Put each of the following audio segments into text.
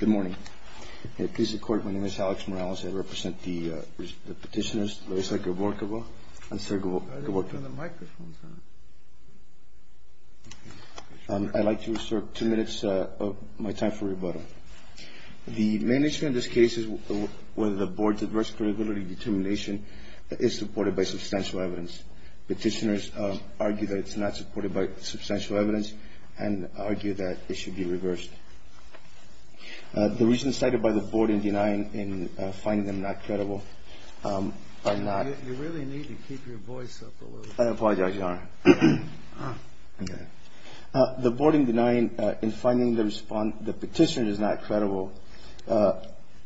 Good morning. In the case of court, my name is Alex Morales. I represent the petitioners, Larissa Gavorkova and Sergey Gavorkov. I'd like to reserve two minutes of my time for rebuttal. The main issue in this case is whether the board's adverse credibility determination is supported by substantial evidence. Petitioners argue that it's not supported by substantial evidence and argue that it should be reversed. The reasons cited by the board in denying and finding them not credible are not. You really need to keep your voice up a little. I apologize, Your Honor. The board in denying and finding the petitioner not credible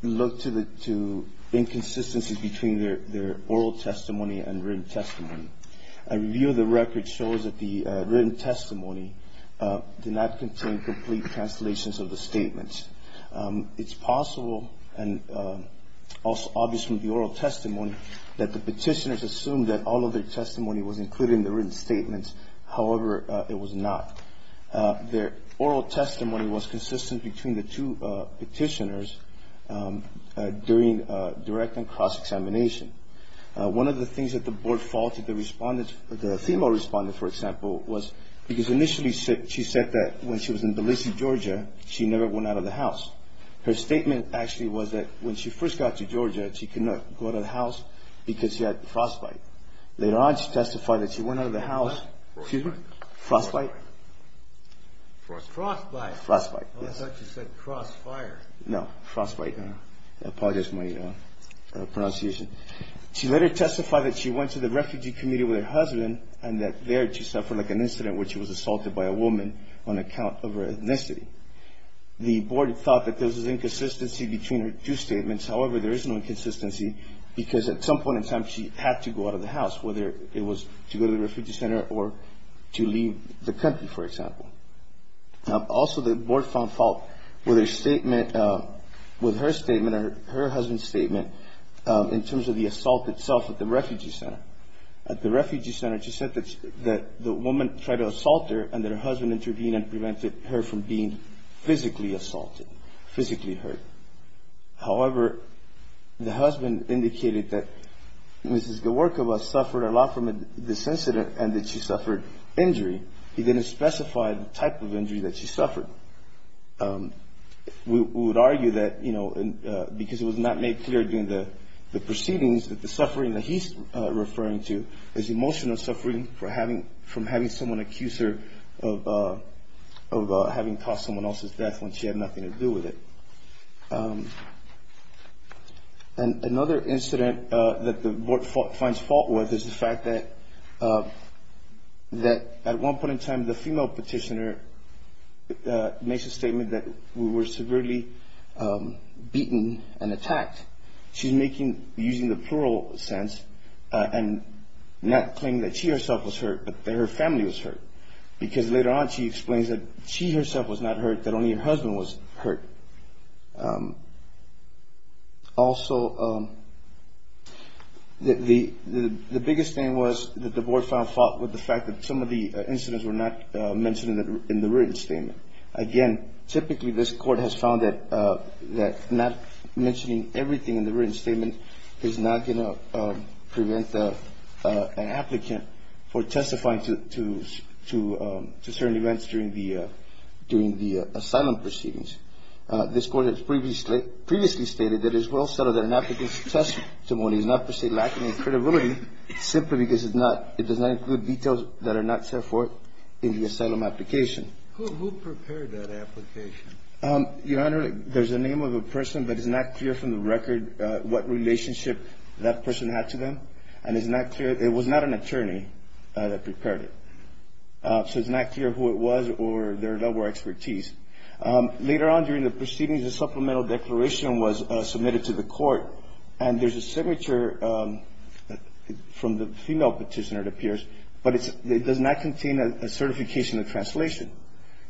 looked to inconsistencies between their oral testimony and written testimony. A review of the record shows that the written testimony did not contain complete translations of the statements. It's possible and obvious from the oral testimony that the petitioners assumed that all of their testimony was included in the written statement. However, it was not. Their oral testimony was consistent between the two petitioners during direct and cross-examination. One of the things that the board faulted the respondent, the female respondent, for example, was because initially she said that when she was in Tbilisi, Georgia, she never went out of the house. Her statement actually was that when she first got to Georgia, she could not go out of the house because she had frostbite. Later on, she testified that she went out of the house. Excuse me? Frostbite? Frostbite. Frostbite. Frostbite, yes. I thought you said crossfire. No. Frostbite. I apologize for my pronunciation. She later testified that she went to the refugee community with her husband and that there she suffered like an incident where she was assaulted by a woman on account of her ethnicity. The board thought that there was an inconsistency between her two statements. However, there is no inconsistency because at some point in time she had to go out of the house, whether it was to go to the refugee center or to leave the country, for example. Also, the board found fault with her statement, her husband's statement, in terms of the assault itself at the refugee center. At the refugee center, she said that the woman tried to assault her and that her husband intervened and prevented her from being physically assaulted, physically hurt. However, the husband indicated that Mrs. Gaworkova suffered a lot from this incident and that she suffered injury. He didn't specify the type of injury that she suffered. We would argue that because it was not made clear during the proceedings that the suffering that he's referring to is emotional suffering from having someone accuse her of having caused someone else's death when she had nothing to do with it. Another incident that the board finds fault with is the fact that at one point in time, the female petitioner makes a statement that we were severely beaten and attacked. She's using the plural sense and not claiming that she herself was hurt but that her family was hurt because later on she explains that she herself was not hurt, that only her husband was hurt. Also, the biggest thing was that the board found fault with the fact that some of the incidents were not mentioned in the written statement. Again, typically this Court has found that not mentioning everything in the written statement is not going to prevent an applicant for testifying to certain events during the asylum proceedings. This Court has previously stated that it is well settled that an applicant's testimony is not per se lacking in credibility simply because it does not include details that are not set forth in the asylum application. Who prepared that application? Your Honor, there's a name of a person but it's not clear from the record what relationship that person had to them and it's not clear, it was not an attorney that prepared it. So it's not clear who it was or their level of expertise. Later on during the proceedings, a supplemental declaration was submitted to the Court and there's a signature from the female petitioner, it appears, but it does not contain a certification of translation.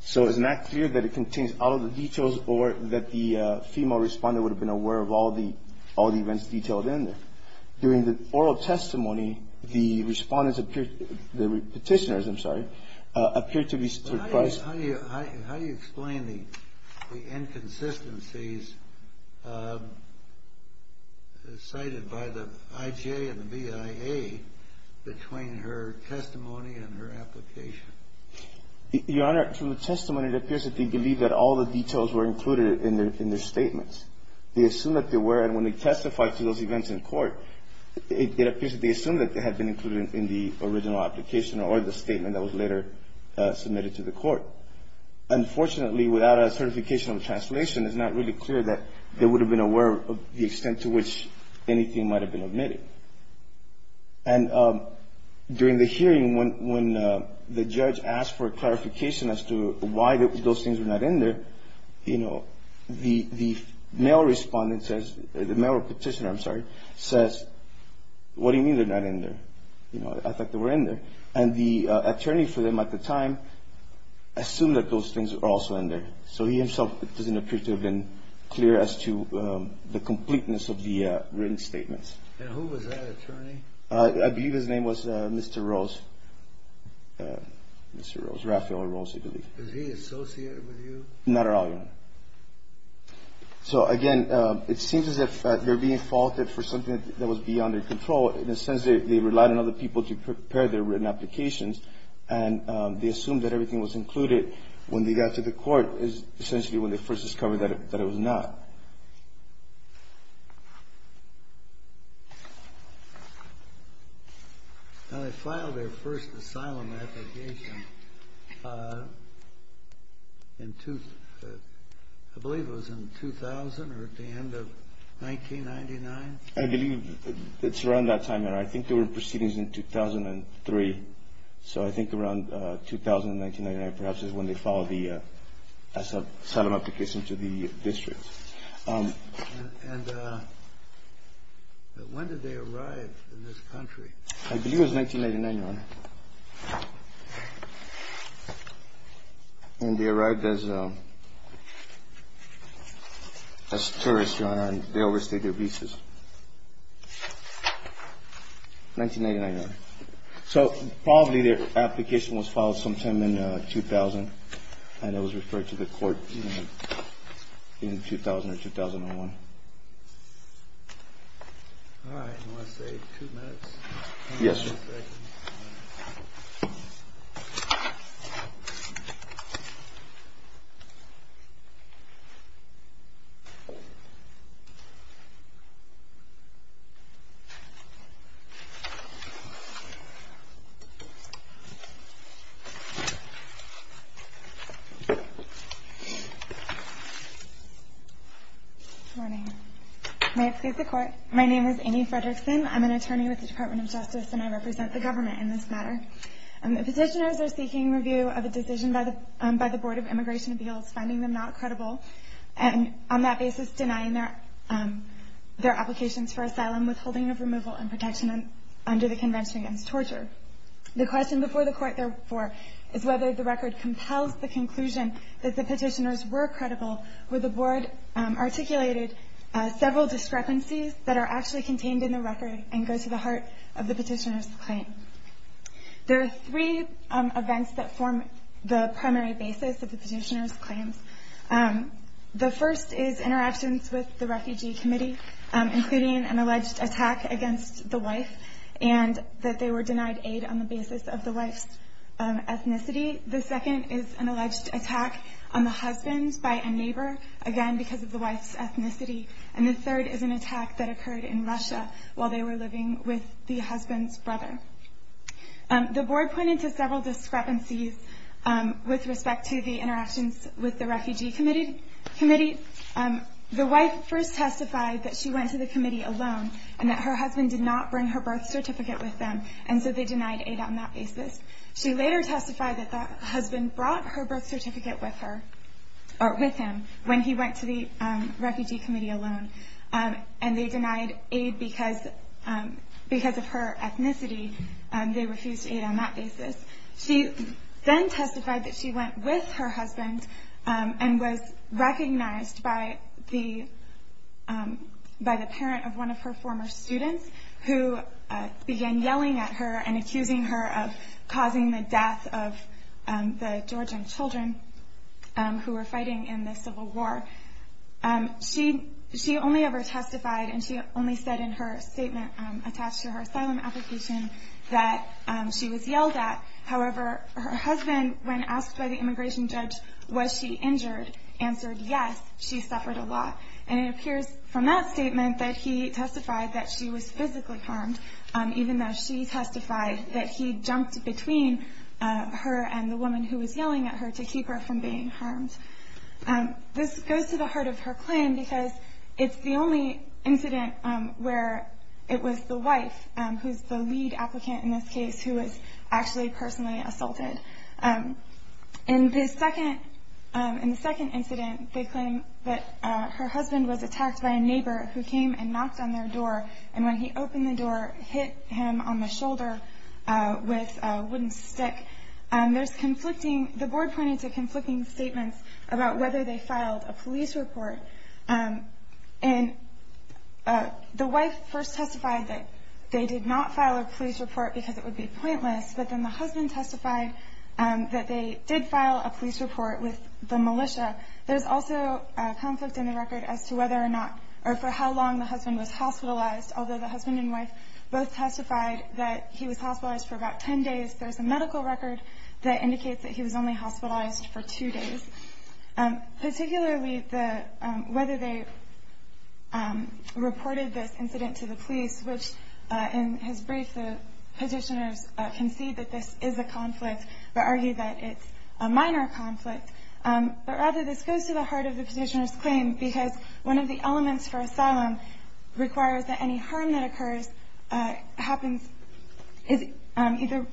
So it's not clear that it contains all of the details or that the female responder would have been aware of all the events detailed in there. During the oral testimony, the petitioners appeared to be surprised. How do you explain the inconsistencies cited by the IJ and the BIA between her testimony and her application? Your Honor, through the testimony, it appears that they believe that all the details were included in their statements. They assume that they were and when they testified to those events in court, it appears that they assume that they had been included in the original application or the statement that was later submitted to the court. Unfortunately, without a certification of translation, it's not really clear that they would have been aware of the extent to which anything might have been omitted. And during the hearing, when the judge asked for clarification as to why those things were not in there, you know, the male respondent says, the male petitioner, I'm sorry, says, what do you mean they're not in there? You know, I thought they were in there. And the attorney for them at the time assumed that those things were also in there. So he himself doesn't appear to have been clear as to the completeness of the written statements. And who was that attorney? I believe his name was Mr. Rose, Mr. Rose, Rafael Rose, I believe. Was he associated with you? Not at all. So, again, it seems as if they're being faulted for something that was beyond their control. In a sense, they relied on other people to prepare their written applications, and they assumed that everything was included when they got to the court is essentially when they first discovered that it was not. Now, they filed their first asylum application in, I believe it was in 2000 or at the end of 1999? I believe it's around that time. I think there were proceedings in 2003. So I think around 2000, 1999 perhaps is when they filed the asylum application to the district. And when did they arrive in this country? I believe it was 1999, Your Honor. And they arrived as tourists, Your Honor, and they overstayed their visas. 1999. So probably their application was filed sometime in 2000, and it was referred to the court in 2000 or 2001. All right. I'm going to say two minutes. Yes. Thank you. Good morning. May it please the Court, my name is Amy Fredrickson. I'm an attorney with the Department of Justice, and I represent the government in this matter. Petitioners are seeking review of a decision by the Board of Immigration Appeals, finding them not credible, and on that basis denying their applications for asylum, withholding of removal, and protection under the Convention Against Torture. The question before the Court, therefore, is whether the record compels the conclusion that the petitioners were credible, where the Board articulated several discrepancies that are actually contained in the record and go to the heart of the petitioner's claim. There are three events that form the primary basis of the petitioner's claims. The first is interactions with the refugee committee, including an alleged attack against the wife, and that they were denied aid on the basis of the wife's ethnicity. The second is an alleged attack on the husband by a neighbor, again because of the wife's ethnicity. And the third is an attack that occurred in Russia while they were living with the husband's brother. The Board pointed to several discrepancies with respect to the interactions with the refugee committee. The wife first testified that she went to the committee alone and that her husband did not bring her birth certificate with them, and so they denied aid on that basis. She later testified that the husband brought her birth certificate with him when he went to the refugee committee alone, and they denied aid because of her ethnicity. They refused aid on that basis. She then testified that she went with her husband and was recognized by the parent of one of her former students who began yelling at her and accusing her of causing the death of the Georgian children who were fighting in the Civil War. She only ever testified, and she only said in her statement attached to her asylum application, that she was yelled at. However, her husband, when asked by the immigration judge, was she injured, answered yes, she suffered a lot. And it appears from that statement that he testified that she was physically harmed, even though she testified that he jumped between her and the woman who was yelling at her to keep her from being harmed. This goes to the heart of her claim because it's the only incident where it was the wife, who's the lead applicant in this case, who was actually personally assaulted. In the second incident, they claim that her husband was attacked by a neighbor who came and knocked on their door, and when he opened the door, hit him on the shoulder with a wooden stick. The board pointed to conflicting statements about whether they filed a police report. The wife first testified that they did not file a police report because it would be pointless, but then the husband testified that they did file a police report with the militia. There's also a conflict in the record as to whether or not, or for how long the husband was hospitalized. Although the husband and wife both testified that he was hospitalized for about 10 days, there's a medical record that indicates that he was only hospitalized for two days. Particularly whether they reported this incident to the police, which in his brief, the petitioners concede that this is a conflict, but argue that it's a minor conflict. But rather, this goes to the heart of the petitioner's claim, because one of the elements for asylum requires that any harm that occurs happens either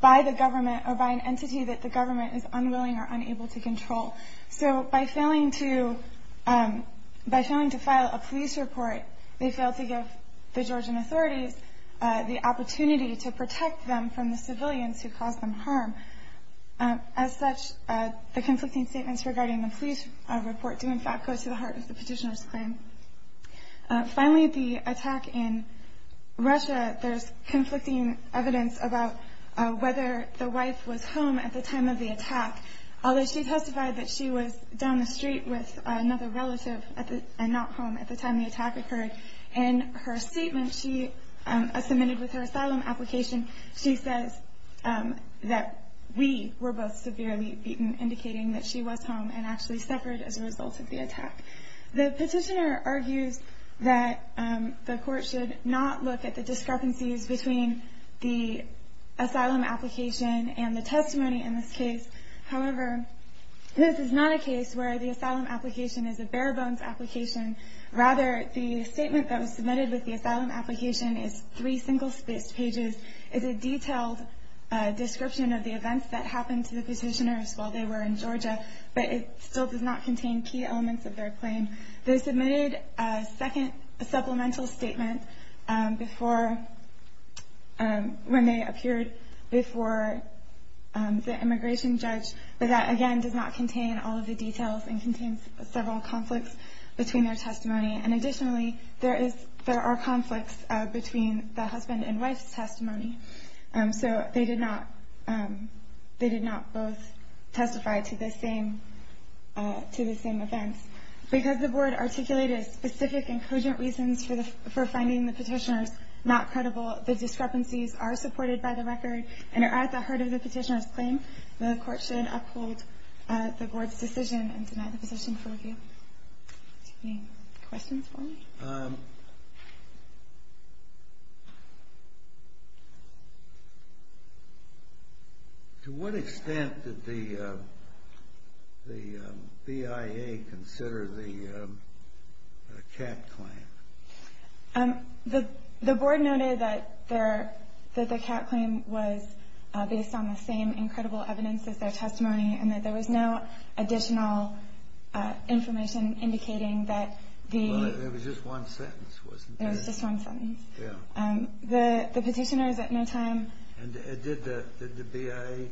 by the government or by an entity that the government is unwilling or unable to control. So by failing to file a police report, they fail to give the Georgian authorities the opportunity to protect them from the civilians who cause them harm. As such, the conflicting statements regarding the police report do in fact go to the heart of the petitioner's claim. Finally, the attack in Russia, there's conflicting evidence about whether the wife was home at the time of the attack. Although she testified that she was down the street with another relative and not home at the time the attack occurred, in her statement she submitted with her asylum application, she says that we were both severely beaten, indicating that she was home and actually suffered as a result of the attack. The petitioner argues that the court should not look at the discrepancies between the asylum application and the testimony in this case. However, this is not a case where the asylum application is a bare-bones application. Rather, the statement that was submitted with the asylum application is three single-spaced pages. It's a detailed description of the events that happened to the petitioners while they were in Georgia, but it still does not contain key elements of their claim. They submitted a second supplemental statement when they appeared before the immigration judge, but that again does not contain all of the details and contains several conflicts between their testimony. Additionally, there are conflicts between the husband and wife's testimony. So they did not both testify to the same events. Because the board articulated specific and cogent reasons for finding the petitioners not credible, the discrepancies are supported by the record and are at the heart of the petitioner's claim. The court should uphold the board's decision and deny the petition for review. Any questions for me? To what extent did the BIA consider the CAP claim? The board noted that the CAP claim was based on the same incredible evidence as their testimony and that there was no additional information indicating that the petitioners at no time. Did the BIA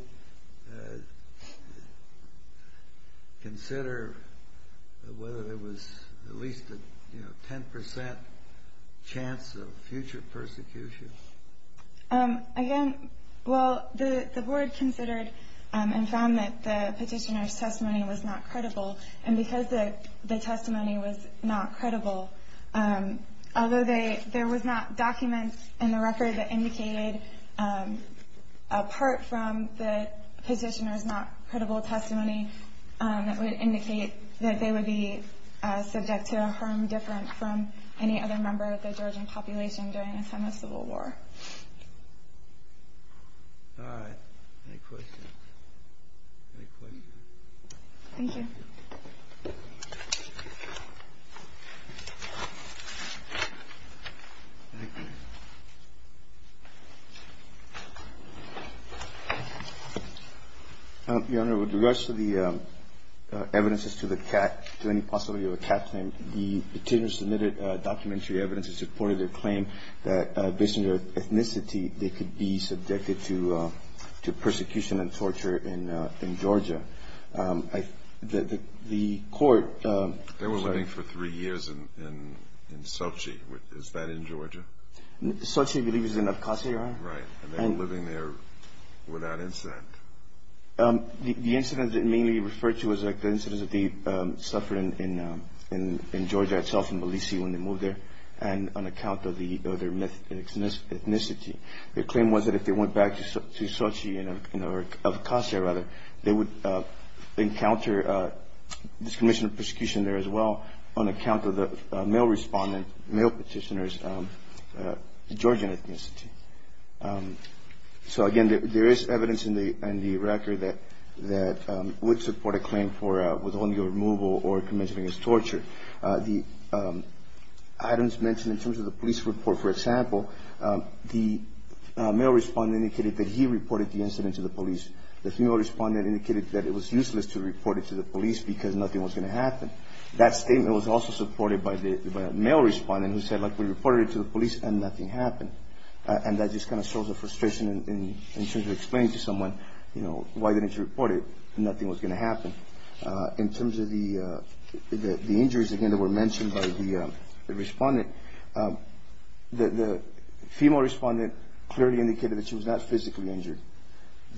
consider whether there was at least a 10% chance of future persecution? The board considered and found that the petitioner's testimony was not credible, and because the testimony was not credible, although there was not document in the record that indicated apart from the petitioner's not credible testimony, that would indicate that they would be subject to a harm different from any other member of the Georgian population during a time of civil war. All right. Any questions? Any questions? Thank you. Your Honor, with regards to the evidences to the CAP, to any possibility of a CAP claim, the petitioner submitted documentary evidence in support of their claim that, based on their ethnicity, they could be subjected to persecution and torture in Georgia. They were living for three years in Sochi. Is that in Georgia? Sochi, I believe, is in Abkhazia, Your Honor. Right. And they were living there without incident. The incident that it mainly referred to was the incident that they suffered in Georgia itself, in Belize, when they moved there, and on account of their ethnicity. Their claim was that if they went back to Sochi or Abkhazia, rather, they would encounter discrimination and persecution there as well, on account of the male respondent, male petitioners, Georgian ethnicity. So, again, there is evidence in the record that would support a claim for withholding or removal or a conviction against torture. The items mentioned in terms of the police report, for example, the male respondent indicated that he reported the incident to the police. The female respondent indicated that it was useless to report it to the police because nothing was going to happen. That statement was also supported by the male respondent, who said, like, we reported it to the police and nothing happened. And that just kind of shows the frustration in terms of explaining to someone, you know, why they didn't report it, and nothing was going to happen. In terms of the injuries, again, that were mentioned by the respondent, the female respondent clearly indicated that she was not physically injured.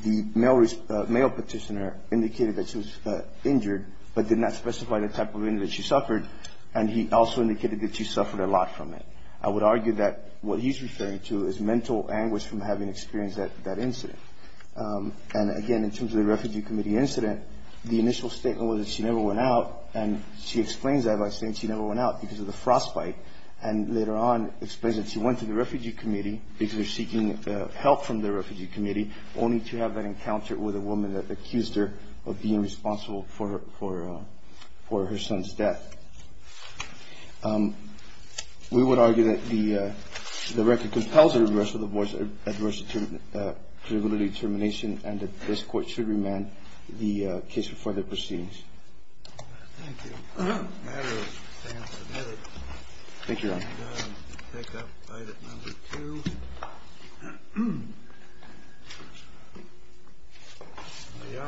The male petitioner indicated that she was injured but did not specify the type of injury that she suffered, and he also indicated that she suffered a lot from it. I would argue that what he's referring to is mental anguish from having experienced that incident. And again, in terms of the Refugee Committee incident, the initial statement was that she never went out, and she explains that by saying she never went out because of the frostbite, and later on explains that she went to the Refugee Committee because she was seeking help from the Refugee Committee, only to have that encounter with a woman that accused her of being responsible for her son's death. We would argue that the record compels a reversal of the voice of adverse criminality determination, and that this Court should remand the case before the proceedings. Thank you. Thank you, Your Honor.